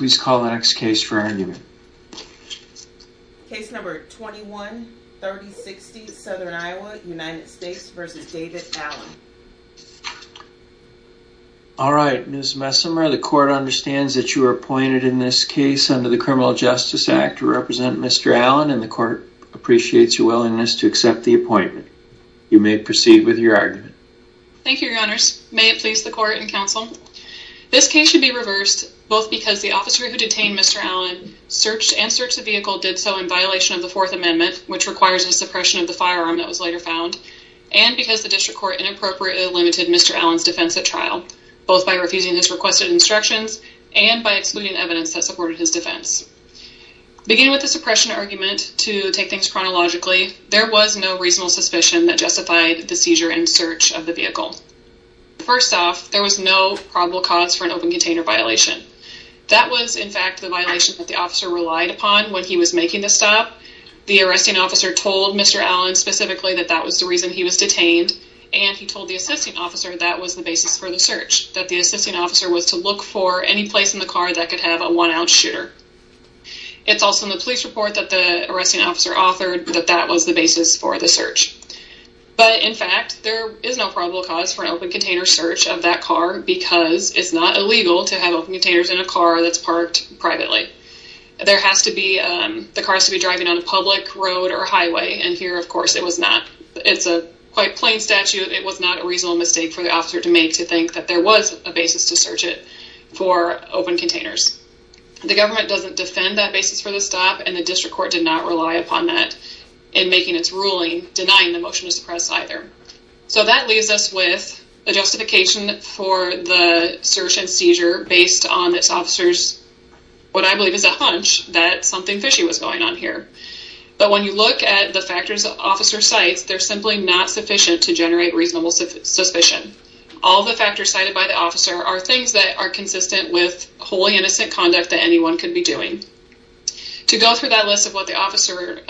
Ms. Messimer, the court understands that you were appointed in this case under the Criminal Justice Act to represent Mr. Allen and the court appreciates your willingness to accept the appointment. You may proceed with your argument. Thank you, Your Honors. May it please the court and counsel. This case should be reversed both because the officer who detained Mr. Allen searched and searched the vehicle did so in violation of the Fourth Amendment, which requires a suppression of the firearm that was later found, and because the district court inappropriately limited Mr. Allen's defense at trial, both by refusing his requested instructions and by excluding evidence that supported his defense. Beginning with the suppression argument, to take things chronologically, there was no reasonable suspicion that justified the seizure and search of the vehicle. First off, there was no probable cause for an open container violation. That was, in fact, the violation that the officer relied upon when he was making the stop. The arresting officer told Mr. Allen specifically that that was the reason he was detained, and he told the assisting officer that was the basis for the search, that the assisting officer was to look for any place in the car that could have a one-ounce shooter. It's also in the police report that the arresting officer authored that that was the basis for the search. But, in fact, there is no probable cause for an open container search of that car because it's not illegal to have open containers in a car that's parked privately. The car has to be driving on a public road or highway, and here, of course, it was not. It's a quite plain statute. It was not a reasonable mistake for the officer to make to think that there was a basis to search it for open containers. The government doesn't defend that basis for the stop, and the district court did not rely upon that in making its ruling denying the motion to suppress either. So that leaves us with a justification for the search and seizure based on this officer's what I believe is a hunch that something fishy was going on here. But when you look at the factors the officer cites, they're simply not sufficient to generate reasonable suspicion. All the factors cited by the officer are things that are consistent with wholly innocent conduct that anyone could be doing. To go through that list of what the officer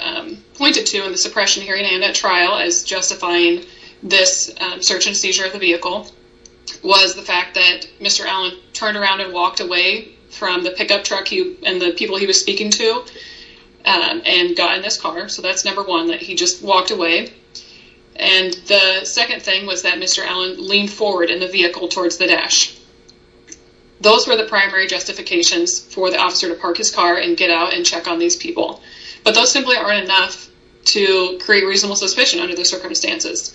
pointed to in the suppression hearing and at trial as justifying this search and seizure of the vehicle was the fact that Mr. Allen turned around and walked away from the pickup truck and the people he was speaking to and got in this car. So that's number one, that he just walked away. And the second thing was that Mr. Allen leaned forward in the vehicle towards the dash. Those were the primary justifications for the officer to park his car and get out and check on these people. But those simply aren't enough to create reasonable suspicion under those circumstances.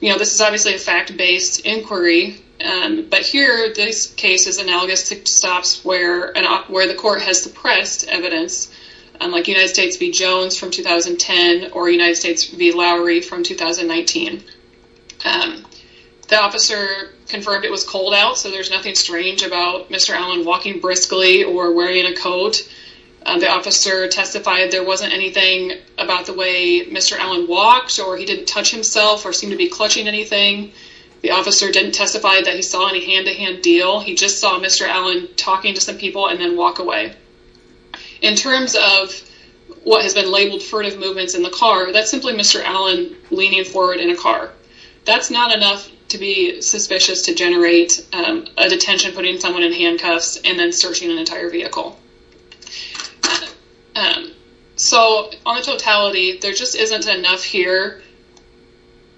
This is obviously a fact-based inquiry, but here this case is analogous to stops where the court has suppressed evidence, like United States v. Jones from 2010 or United States v. Lowry from 2019. The officer confirmed it was cold out, so there's nothing strange about Mr. Allen walking briskly or wearing a coat. The officer testified there wasn't anything about the way Mr. Allen walked or he didn't touch himself or seem to be clutching anything. The officer didn't testify that he saw any hand-to-hand deal. He just saw Mr. Allen talking to some people and then walk away. In terms of what has been labeled furtive movements in the car, that's simply Mr. Allen leaning forward in a car. That's not enough to be suspicious to generate a detention putting someone in handcuffs and then searching an entire vehicle. So, on the totality, there just isn't enough here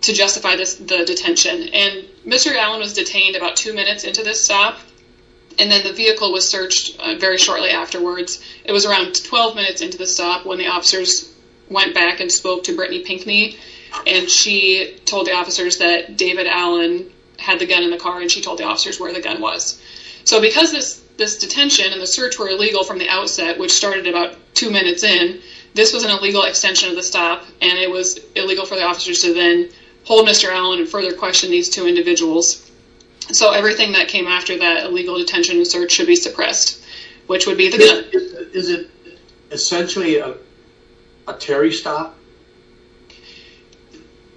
to justify the detention. And Mr. Allen was detained about two minutes into this stop, and then the vehicle was searched very shortly afterwards. It was around 12 minutes into the stop when the officers went back and spoke to Brittany Pinkney, and she told the officers that David Allen had the gun in the car, and she told the officers where the gun was. So because this detention and the search were illegal from the outset, which started about two minutes in, this was an illegal extension of the stop, and it was illegal for the officers to then hold Mr. Allen and further question these two individuals. Is it essentially a Terry stop?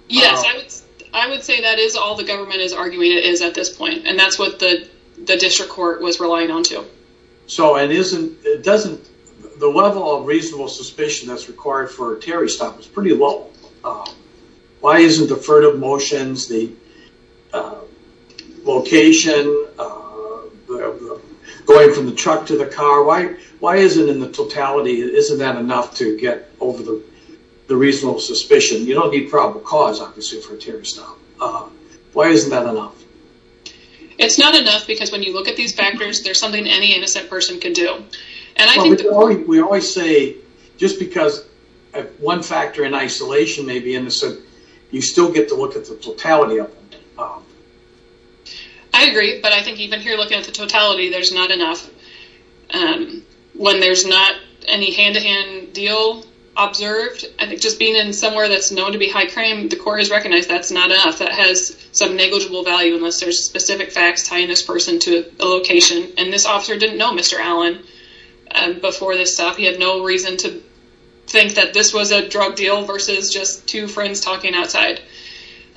Yes. I would say that is all the government is arguing it is at this point, and that's what the district court was relying on, too. So, the level of reasonable suspicion that's required for a Terry stop is pretty low. Why isn't the furtive motions, the location, going from the truck to the car, why isn't in the totality, isn't that enough to get over the reasonable suspicion? You don't need probable cause, obviously, for a Terry stop. Why isn't that enough? It's not enough because when you look at these factors, there's something any innocent person could do. We always say, just because one factor in isolation may be innocent, you still get to look at the totality of it. I agree, but I think even here looking at the totality, there's not enough. When there's not any hand-to-hand deal observed, I think just being in somewhere that's known to be high crime, the court has recognized that's not enough, that has some negligible value unless there's specific facts tying this person to a location, and this officer didn't know Mr. Allen before this stop. He had no reason to think that this was a drug deal versus just two friends talking outside.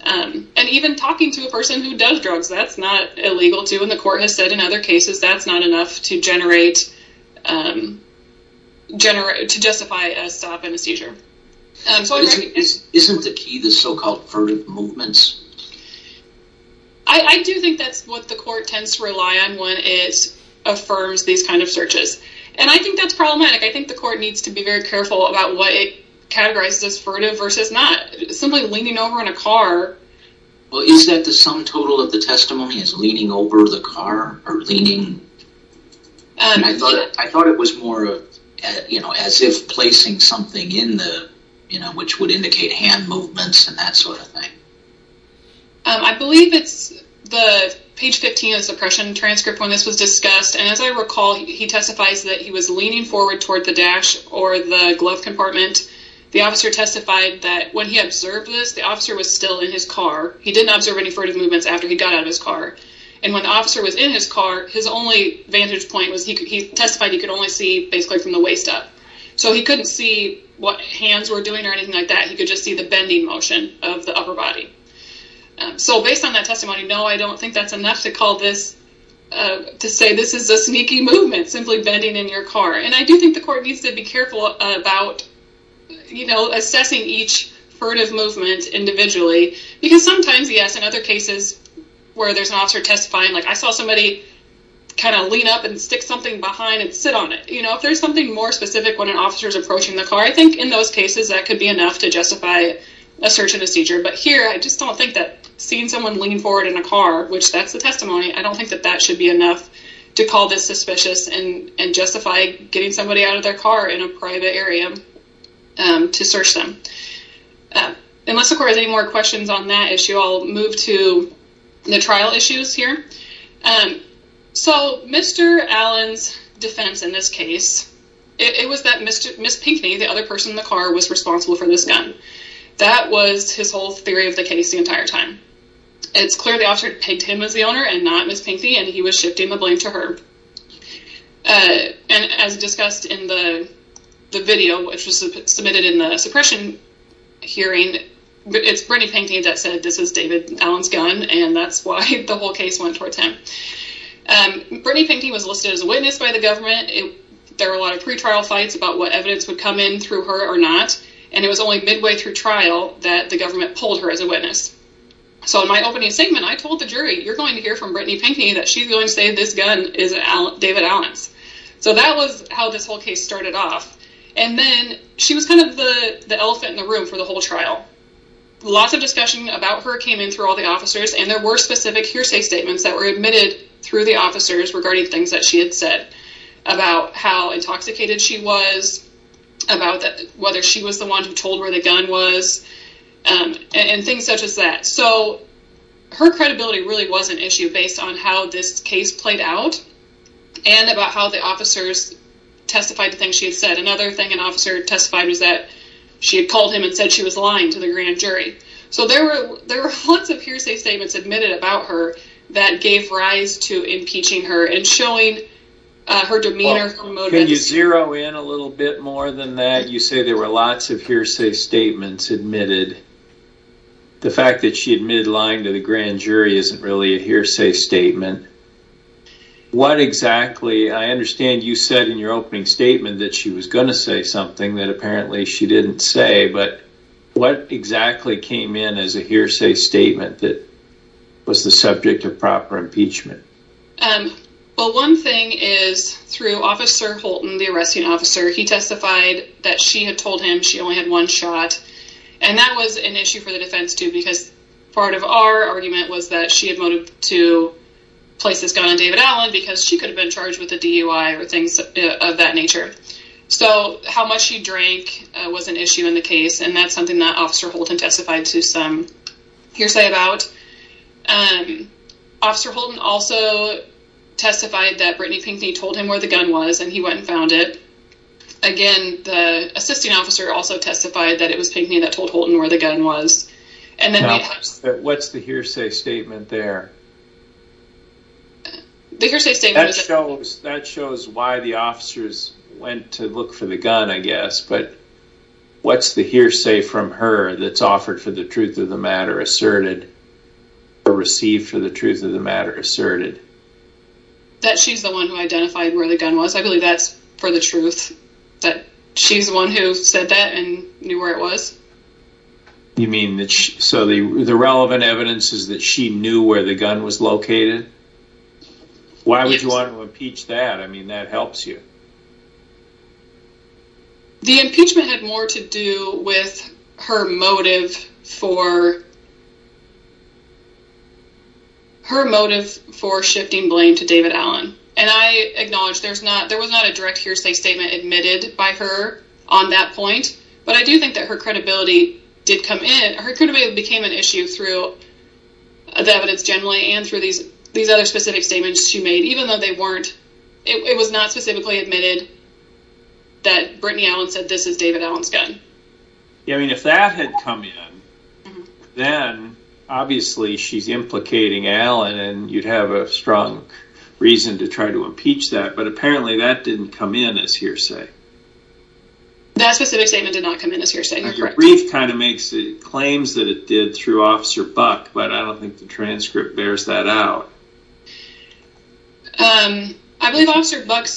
And even talking to a person who does drugs, that's not illegal, too, and the court has said in other cases that's not enough to generate, to justify a stop and a seizure. Isn't the key the so-called furtive movements? I do think that's what the court tends to rely on when it affirms these kind of searches. And I think that's problematic. I think the court needs to be very careful about what it categorizes as furtive versus not. Simply leaning over in a car. Well, is that the sum total of the testimony is leaning over the car or leaning? I thought it was more of, you know, as if placing something in the, you know, which would indicate hand movements and that sort of thing. I believe it's the page 15 of the suppression transcript when this was discussed. And as I recall, he testifies that he was leaning forward toward the dash or the glove compartment. The officer testified that when he observed this, the officer was still in his car. He didn't observe any furtive movements after he got out of his car. And when the officer was in his car, his only vantage point was he testified he could only see basically from the waist up. So he couldn't see what hands were doing or anything like that. He could just see the bending motion of the upper body. So based on that testimony, no, I don't think that's enough to call this, to say this is a sneaky movement, simply bending in your car. And I do think the court needs to be careful about, you know, assessing each furtive movement individually. Because sometimes, yes, in other cases where there's an officer testifying, like I saw somebody kind of lean up and stick something behind and sit on it. You know, if there's something more specific when an officer is approaching the car, I think in those cases that could be enough to justify a search and a seizure. But here, I just don't think that seeing someone lean forward in a car, which that's the testimony, I don't think that that should be enough to call this suspicious and justify getting somebody out of their car in a private area to search them. Unless the court has any more questions on that issue, I'll move to the trial issues here. So Mr. Allen's defense in this case, it was that Ms. Pinkney, the other person in the car, was responsible for this gun. That was his whole theory of the case the entire time. It's clear the officer picked him as the owner and not Ms. Pinkney, and he was shifting the blame to her. And as discussed in the video, which was submitted in the suppression hearing, it's Brittany Pinkney that said this is David Allen's gun, and that's why the whole case went towards him. Brittany Pinkney was listed as a witness by the government. There were a lot of pretrial fights about what evidence would come in through her or not. And it was only midway through trial that the government pulled her as a witness. So in my opening statement, I told the jury, you're going to hear from Brittany Pinkney that she's going to say this gun is David Allen's. So that was how this whole case started off. And then she was kind of the elephant in the room for the whole trial. Lots of discussion about her came in through all the officers, and there were specific hearsay statements that were admitted through the officers regarding things that she had said about how intoxicated she was, about whether she was the one who told where the gun was, and things such as that. So her credibility really was an issue based on how this case played out and about how the officers testified to things she had said. Another thing an officer testified was that she had called him and said she was lying to the grand jury. So there were lots of hearsay statements admitted about her that gave rise to impeaching her and showing her demeanor. Can you zero in a little bit more than that? You say there were lots of hearsay statements admitted. The fact that she admitted lying to the grand jury isn't really a hearsay statement. What exactly, I understand you said in your opening statement that she was going to say something that apparently she didn't say, but what exactly came in as a hearsay statement that was the subject of proper impeachment? One thing is through Officer Holton, the arresting officer, he testified that she had told him she only had one shot, and that was an issue for the defense too because part of our argument was that she had motivated to place this gun on David Allen because she could have been charged with a DUI or things of that nature. So how much she drank was an issue in the case, and that's something that Officer Holton testified to some hearsay about. Officer Holton also testified that Brittany Pinkney told him where the gun was, and he went and found it. Again, the assisting officer also testified that it was Pinkney that told Holton where the gun was. What's the hearsay statement there? That shows why the officers went to look for the gun, I guess, but what's the hearsay from her that's offered for the truth of the matter asserted or received for the truth of the matter asserted? That she's the one who identified where the gun was. I believe that's for the truth, that she's the one who said that and knew where it was. You mean, so the relevant evidence is that she knew where the gun was located? Yes. Why would you want to impeach that? I mean, that helps you. The impeachment had more to do with her motive for shifting blame to David Allen, and I acknowledge there was not a direct hearsay statement admitted by her on that point, but I do think that her credibility did come in. Her credibility became an issue through the evidence generally and through these other specific statements she made, even though it was not specifically admitted that Brittany Allen said, this is David Allen's gun. Yeah, I mean, if that had come in, then obviously she's implicating Allen and you'd have a strong reason to try to impeach that, but apparently that didn't come in as hearsay. That specific statement did not come in as hearsay, you're correct. The brief kind of claims that it did through Officer Buck, but I don't think the transcript bears that out. I believe Officer Buck,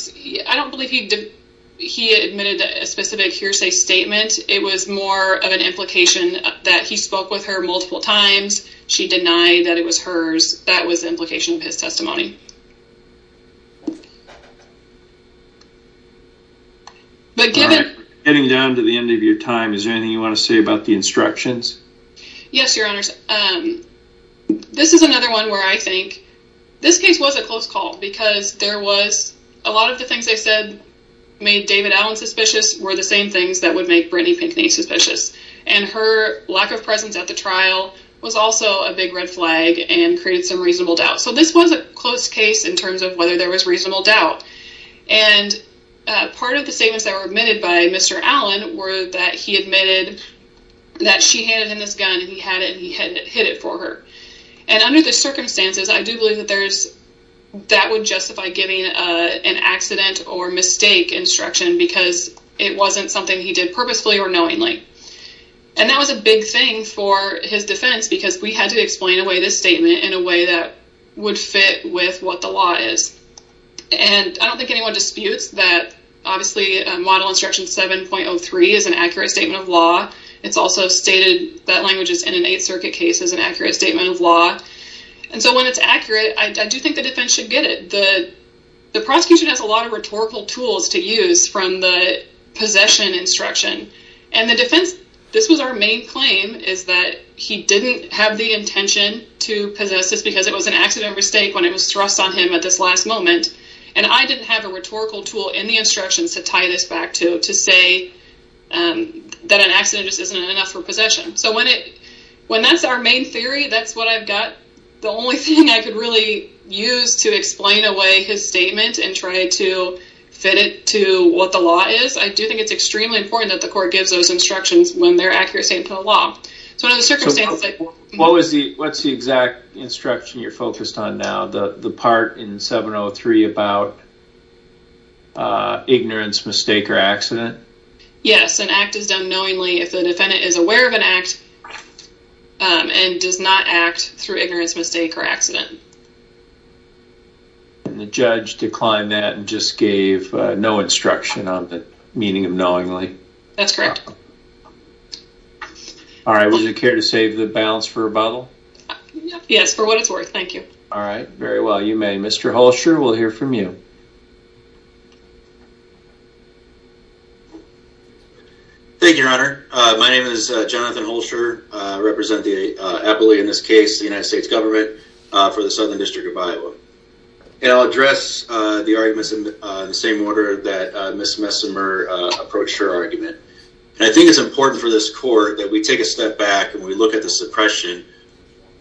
I don't believe he admitted a specific hearsay statement. It was more of an implication that he spoke with her multiple times. She denied that it was hers. That was the implication of his testimony. All right, getting down to the end of your time, is there anything you want to say about the instructions? Yes, Your Honors. This is another one where I think this case was a close call because there was a lot of the things they said made David Allen suspicious were the same things that would make Brittany Pinckney suspicious, and her lack of presence at the trial was also a big red flag and created some reasonable doubt. So this was a close case in terms of whether there was reasonable doubt, and part of the statements that were admitted by Mr. Allen were that he admitted that she handed him this gun and he had it and he had hit it for her, and under the circumstances, I do believe that would justify giving an accident or mistake instruction because it wasn't something he did purposefully or knowingly, and that was a big thing for his defense because we had to explain away this statement in a way that would fit with what the law is. And I don't think anyone disputes that, obviously, Model Instruction 7.03 is an accurate statement of law. It's also stated that language is in an Eighth Circuit case as an accurate statement of law. And so when it's accurate, I do think the defense should get it. The prosecution has a lot of rhetorical tools to use from the possession instruction, and the defense, this was our main claim, is that he didn't have the intention to possess this because it was an accident or mistake when it was thrust on him at this last moment, and I didn't have a rhetorical tool in the instructions to tie this back to to say that an accident just isn't enough for possession. So when that's our main theory, that's what I've got. The only thing I could really use to explain away his statement and try to fit it to what the law is, I do think it's extremely important that the court gives those instructions when they're accurate statements of the law. So under the circumstances... What's the exact instruction you're focused on now, the part in 7.03 about ignorance, mistake, or accident? Yes, an act is done knowingly if the defendant is aware of an act and does not act through ignorance, mistake, or accident. And the judge declined that and just gave no instruction on the meaning of knowingly. That's correct. All right, would you care to save the balance for rebuttal? Yes, for what it's worth. Thank you. All right, very well. You may. Mr. Holscher, we'll hear from you. Thank you, Your Honor. My name is Jonathan Holscher. I represent the appellee in this case, the United States government, for the Southern District of Iowa. And I'll address the arguments in the same order that Ms. Messimer approached her argument. And I think it's important for this court that we take a step back and we look at the suppression.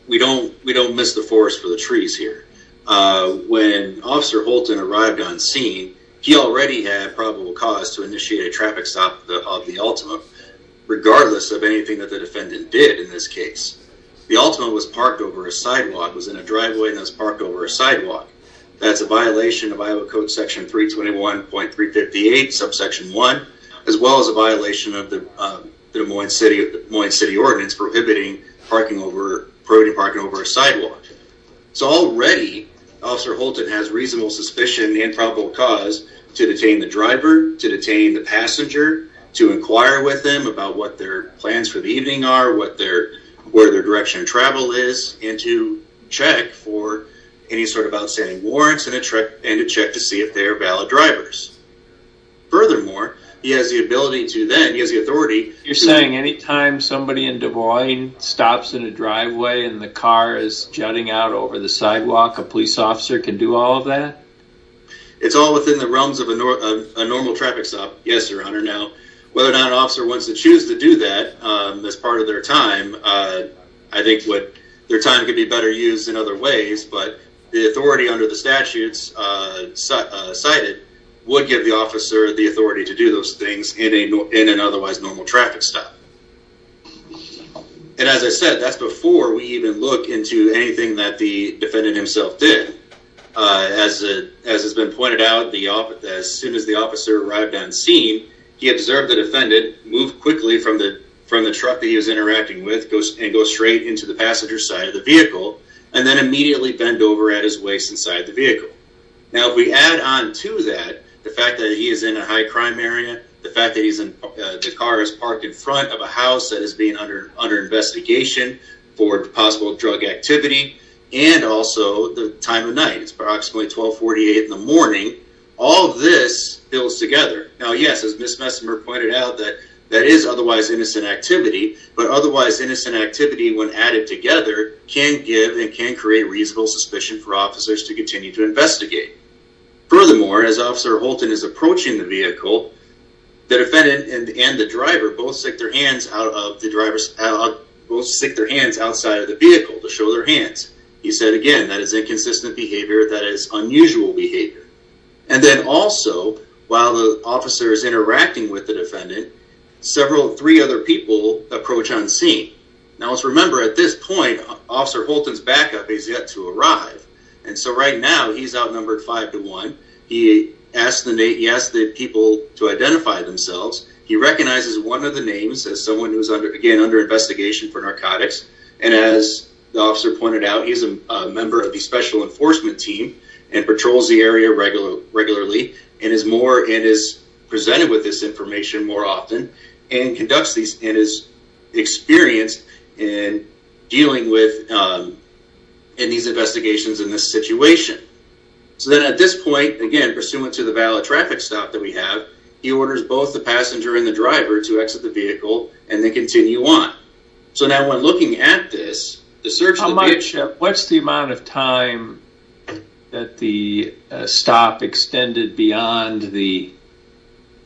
We don't miss the forest for the trees here. When Officer Holton arrived on scene, he already had probable cause to initiate a traffic stop of the Altima, regardless of anything that the defendant did in this case. The Altima was parked over a sidewalk, was in a driveway, and was parked over a sidewalk. That's a violation of Iowa Code Section 321.358, Subsection 1, as well as a violation of the Des Moines City Ordinance prohibiting parking over a sidewalk. So already, Officer Holton has reasonable suspicion in the improbable cause to detain the driver, to detain the passenger, to inquire with them about what their plans for the evening are, what their direction of travel is, and to check for any sort of outstanding warrants and to check to see if they are valid drivers. Furthermore, he has the ability to then, he has the authority to... You're saying any time somebody in Des Moines stops in a driveway and the car is jutting out over the sidewalk, a police officer can do all of that? It's all within the realms of a normal traffic stop, yes, Your Honor. Now, whether or not an officer wants to choose to do that as part of their time, I think their time could be better used in other ways, but the authority under the statutes cited would give the officer the authority to do those things in an otherwise normal traffic stop. And as I said, that's before we even look into anything that the defendant himself did. As has been pointed out, as soon as the officer arrived on scene, he observed the defendant move quickly from the truck that he was interacting with and go straight into the passenger side of the vehicle and then immediately bend over at his waist inside the vehicle. Now, if we add on to that the fact that he is in a high-crime area, the fact that the car is parked in front of a house that is being under investigation for possible drug activity, and also the time of night, it's approximately 1248 in the morning, all of this builds together. Now, yes, as Ms. Messimer pointed out, that is otherwise innocent activity, but otherwise innocent activity, when added together, can give and can create reasonable suspicion for officers to continue to investigate. Furthermore, as Officer Holton is approaching the vehicle, the defendant and the driver both stick their hands outside of the vehicle to show their hands. He said, again, that is inconsistent behavior, that is unusual behavior. And then also, while the officer is interacting with the defendant, several three other people approach on scene. Now, let's remember, at this point, Officer Holton's backup is yet to arrive, and so right now he's outnumbered five to one. He asked the people to identify themselves. He recognizes one of the names as someone who is, again, under investigation for narcotics, and as the officer pointed out, he's a member of the special enforcement team and patrols the area regularly and is presented with this information more often and is experienced in dealing with these investigations in this situation. So then at this point, again, pursuant to the valid traffic stop that we have, he orders both the passenger and the driver to exit the vehicle and then continue on. So now, when looking at this, the search of the vehicle... What's the amount of time that the stop extended beyond the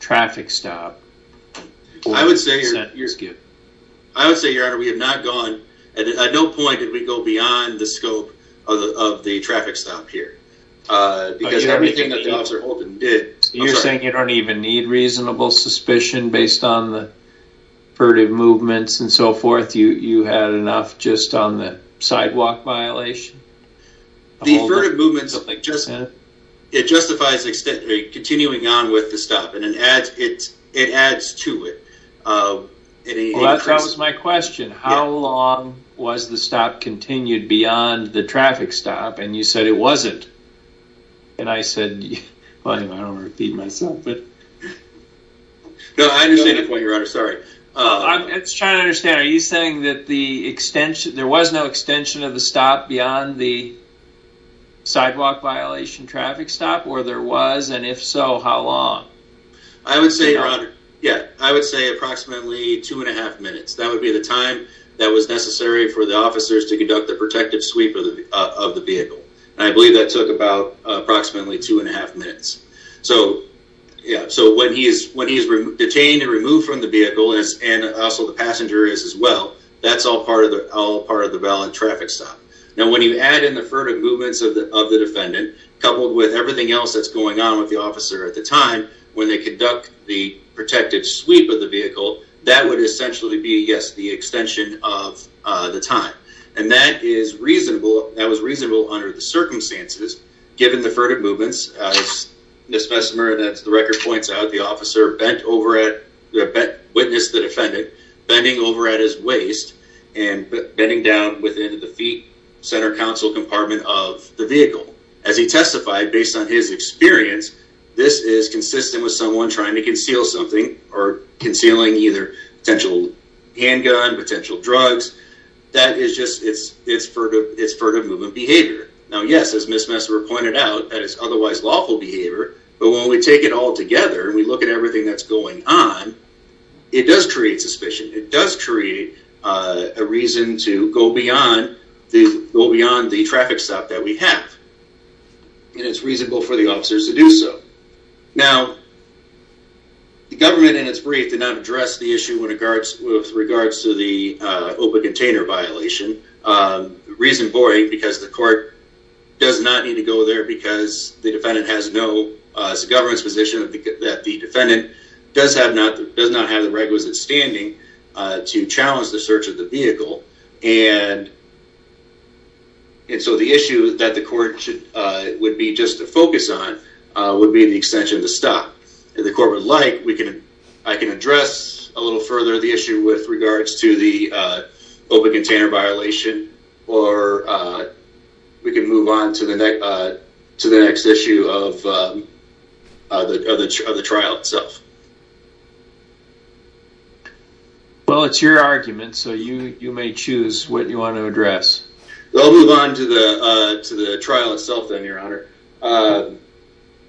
traffic stop? I would say, Your Honor, we have not gone, and at no point did we go beyond the scope of the traffic stop here, because everything that the officer Holton did... You had enough just on the sidewalk violation? The averted movement, it justifies continuing on with the stop, and it adds to it. Well, that was my question. How long was the stop continued beyond the traffic stop? And you said it wasn't. And I said... I don't want to repeat myself, but... No, I understand your point, Your Honor. Sorry. I'm just trying to understand. Are you saying that there was no extension of the stop beyond the sidewalk violation traffic stop, or there was, and if so, how long? I would say, Your Honor, yeah, I would say approximately 2 1⁄2 minutes. That would be the time that was necessary for the officers to conduct the protective sweep of the vehicle. And I believe that took about approximately 2 1⁄2 minutes. So when he is detained and removed from the vehicle, and also the passenger is as well, that's all part of the valid traffic stop. Now, when you add in the averted movements of the defendant, coupled with everything else that's going on with the officer at the time, when they conduct the protective sweep of the vehicle, that would essentially be, yes, the extension of the time. And that is reasonable, that was reasonable under the circumstances, given the averted movements, as Ms. Messimer, as the record points out, the officer bent over at, witnessed the defendant bending over at his waist and bending down within the feet, center console compartment of the vehicle. As he testified, based on his experience, this is consistent with someone trying to conceal something, or concealing either potential handgun, potential drugs. That is just, it's furtive movement behavior. Now, yes, as Ms. Messimer pointed out, that is otherwise lawful behavior, but when we take it all together and we look at everything that's going on, it does create suspicion, it does create a reason to go beyond the traffic stop that we have. And it's reasonable for the officers to do so. Now, the government in its brief did not address the issue with regards to the open container violation. Reasonably, because the court does not need to go there because the defendant has no, it's the government's position that the defendant does not have the requisite standing to challenge the search of the vehicle. And so the issue that the court would be just to focus on would be the extension of the stop. If the court would like, I can address a little further the issue with regards to the open container violation, or we can move on to the next issue of the trial itself. Well, it's your argument, so you may choose what you want to address. I'll move on to the trial itself then, Your Honor.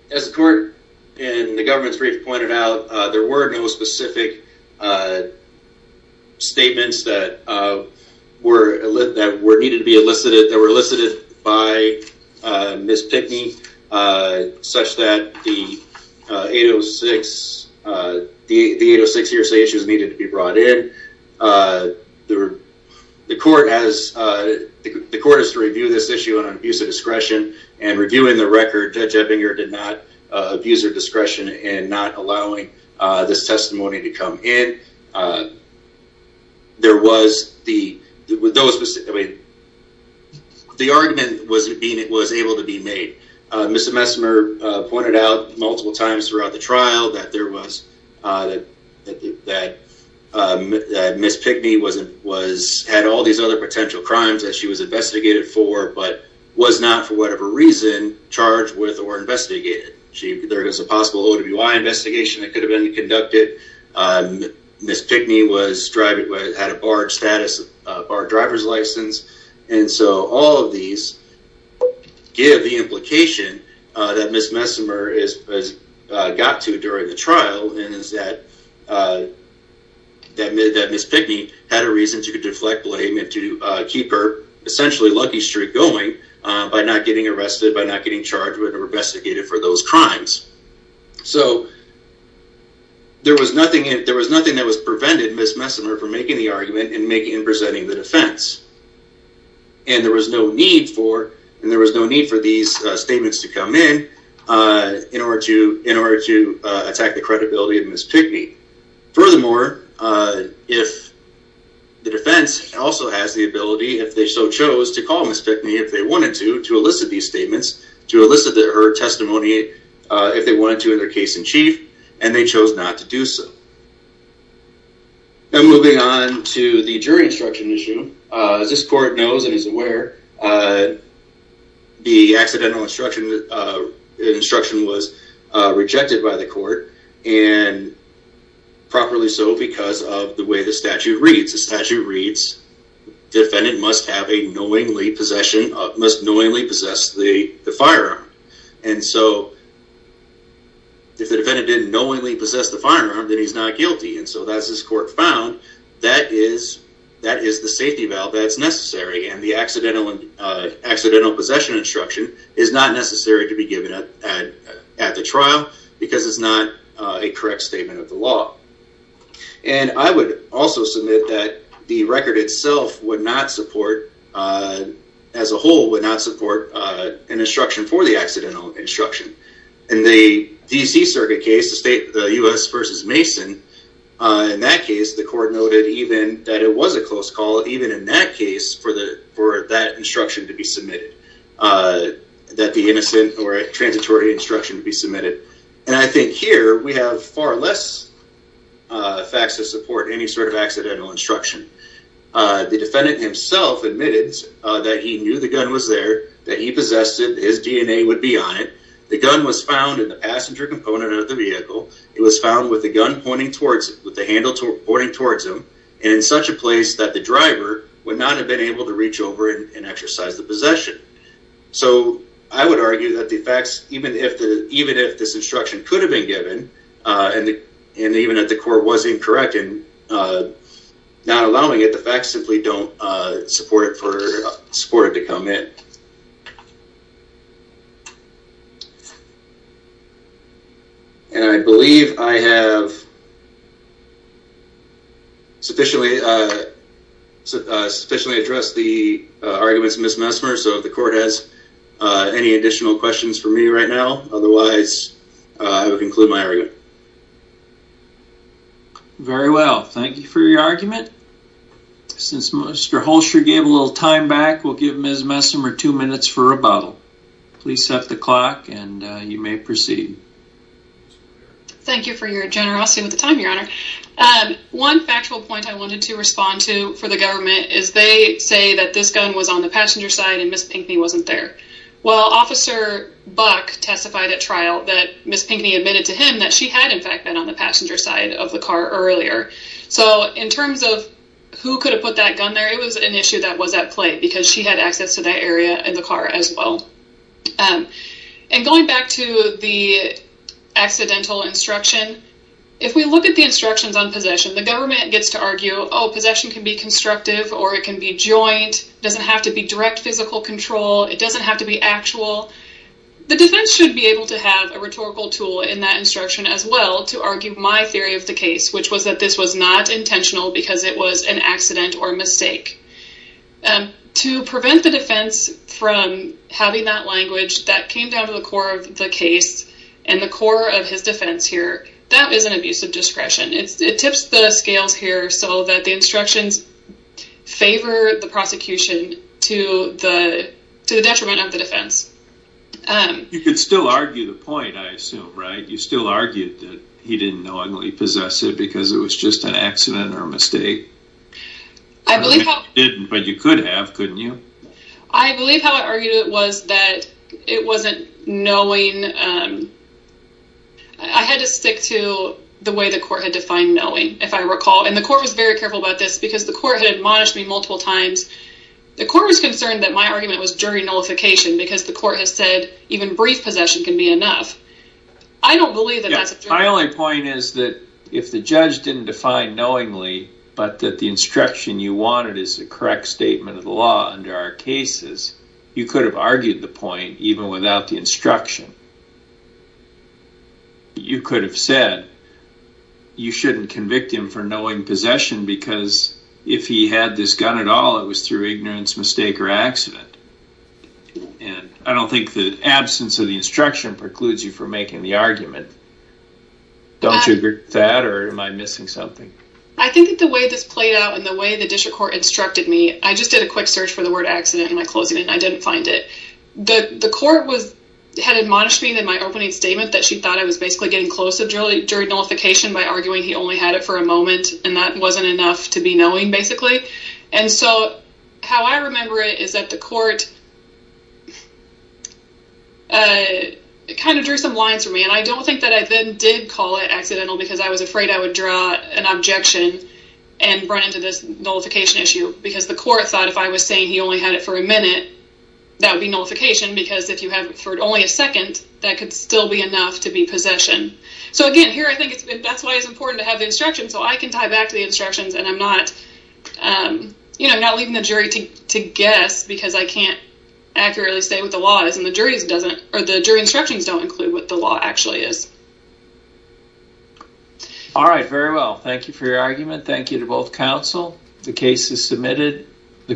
As the court in the government's brief pointed out, there were no specific statements that were needed to be elicited, that were elicited by Ms. Pickney such that the 806 hearsay issues needed to be brought in. The court has to review this issue on abuse of discretion, and reviewing the record, Judge Ebbinger did not abuse her discretion in not allowing this testimony to come in. There was the, with those, the argument was able to be made. Mr. Messimer pointed out multiple times throughout the trial that there was, that Ms. Pickney had all these other potential crimes that she was investigated for, but was not, for whatever reason, charged with or investigated. There is a possible OWI investigation that could have been conducted. Ms. Pickney had a barred status, barred driver's license, and so all of these give the implication that Ms. Messimer has got to during the trial, and is that Ms. Pickney had a reason to deflect blame, and to keep her essentially lucky streak going by not getting arrested, by not getting charged with or investigated for those crimes. So, there was nothing that was prevented Ms. Messimer from making the argument, and presenting the defense, and there was no need for these statements to come in, in order to attack the credibility of Ms. Pickney. Furthermore, if the defense also has the ability, if they so chose, to call Ms. Pickney if they wanted to, to elicit these statements, to elicit her testimony if they wanted to in their case in chief, and they chose not to do so. And moving on to the jury instruction issue, as this court knows and is aware, the accidental instruction was rejected by the court, and properly so because of the way the statute reads. The statute reads, defendant must knowingly possess the firearm. And so, if the defendant didn't knowingly possess the firearm, then he's not guilty. And so, as this court found, that is the safety valve that's necessary, and the accidental possession instruction is not necessary to be given at the trial, because it's not a correct statement of the law. And I would also submit that the record itself would not support, as a whole, would not support an instruction for the accidental instruction. In the D.C. Circuit case, the U.S. v. Mason, in that case, the court noted even that it was a close call, even in that case, for that instruction to be submitted, that the innocent or transitory instruction to be submitted. And I think here, we have far less facts to support any sort of accidental instruction. The defendant himself admitted that he knew the gun was there, that he possessed it, his DNA would be on it. The gun was found in the passenger component of the vehicle. It was found with the gun pointing towards him, with the handle pointing towards him, and in such a place that the driver would not have been able to reach over and exercise the possession. So I would argue that the facts, even if this instruction could have been given, and even if the court was incorrect in not allowing it, the facts simply don't support it to come in. And I believe I have sufficiently addressed the arguments of Ms. Messmer, so if the court has any additional questions for me right now, otherwise I will conclude my argument. Very well. Thank you for your argument. Since Mr. Holscher gave a little time back, we'll give Ms. Messmer two minutes for rebuttal. Please set the clock and you may proceed. Thank you for your generosity with the time, Your Honor. One factual point I wanted to respond to for the government is they say that this gun was on the passenger side and Ms. Pinckney wasn't there. Well, Officer Buck testified at trial that Ms. Pinckney admitted to him that she had, in fact, been on the passenger side of the car earlier. So in terms of who could have put that gun there, it was an issue that was at play because she had access to that area in the car as well. And going back to the accidental instruction, if we look at the instructions on possession, the government gets to argue, oh, possession can be constructive or it can be joint, it doesn't have to be direct physical control, it doesn't have to be actual. The defense should be able to have a rhetorical tool in that instruction as well to argue my theory of the case, which was that this was not intentional because it was an accident or a mistake. To prevent the defense from having that language that came down to the core of the case and the core of his defense here, that is an abuse of discretion. It tips the scales here so that the instructions favor the prosecution to the detriment of the defense. You could still argue the point, I assume, right? You still argued that he didn't know he possessed it because it was just an accident or a mistake? I believe how... But you could have, couldn't you? I believe how I argued it was that it wasn't knowing... I had to stick to the way the court had defined knowing, if I recall, and the court was very careful about this because the court had admonished me multiple times. The court was concerned that my argument was jury nullification because the court has said even brief possession can be enough. I don't believe that that's a... My only point is that if the judge didn't define knowingly, but that the instruction you wanted is the correct statement of the law under our cases, you could have argued the point even without the instruction. You could have said you shouldn't convict him for knowing possession because if he had this gun at all, it was through ignorance, mistake, or accident. And I don't think the absence of the instruction precludes you from making the argument. Don't you agree with that, or am I missing something? I think that the way this played out and the way the district court instructed me... I just did a quick search for the word accident in my closing and I didn't find it. The court had admonished me in my opening statement that she thought I was basically getting close to jury nullification by arguing he only had it for a moment and that wasn't enough to be knowing, basically. And so how I remember it is that the court kind of drew some lines for me, and I don't think that I then did call it accidental because I was afraid I would draw an objection and run into this nullification issue because the court thought if I was saying he only had it for a minute, that would be nullification because if you have it for only a second, that could still be enough to be possession. So again, here I think that's why it's important to have the instructions so I can tie back to the instructions and I'm not leaving the jury to guess because I can't accurately say what the law is, and the jury instructions don't include what the law actually is. All right, very well. Thank you for your argument. Thank you to both counsel. The case is submitted.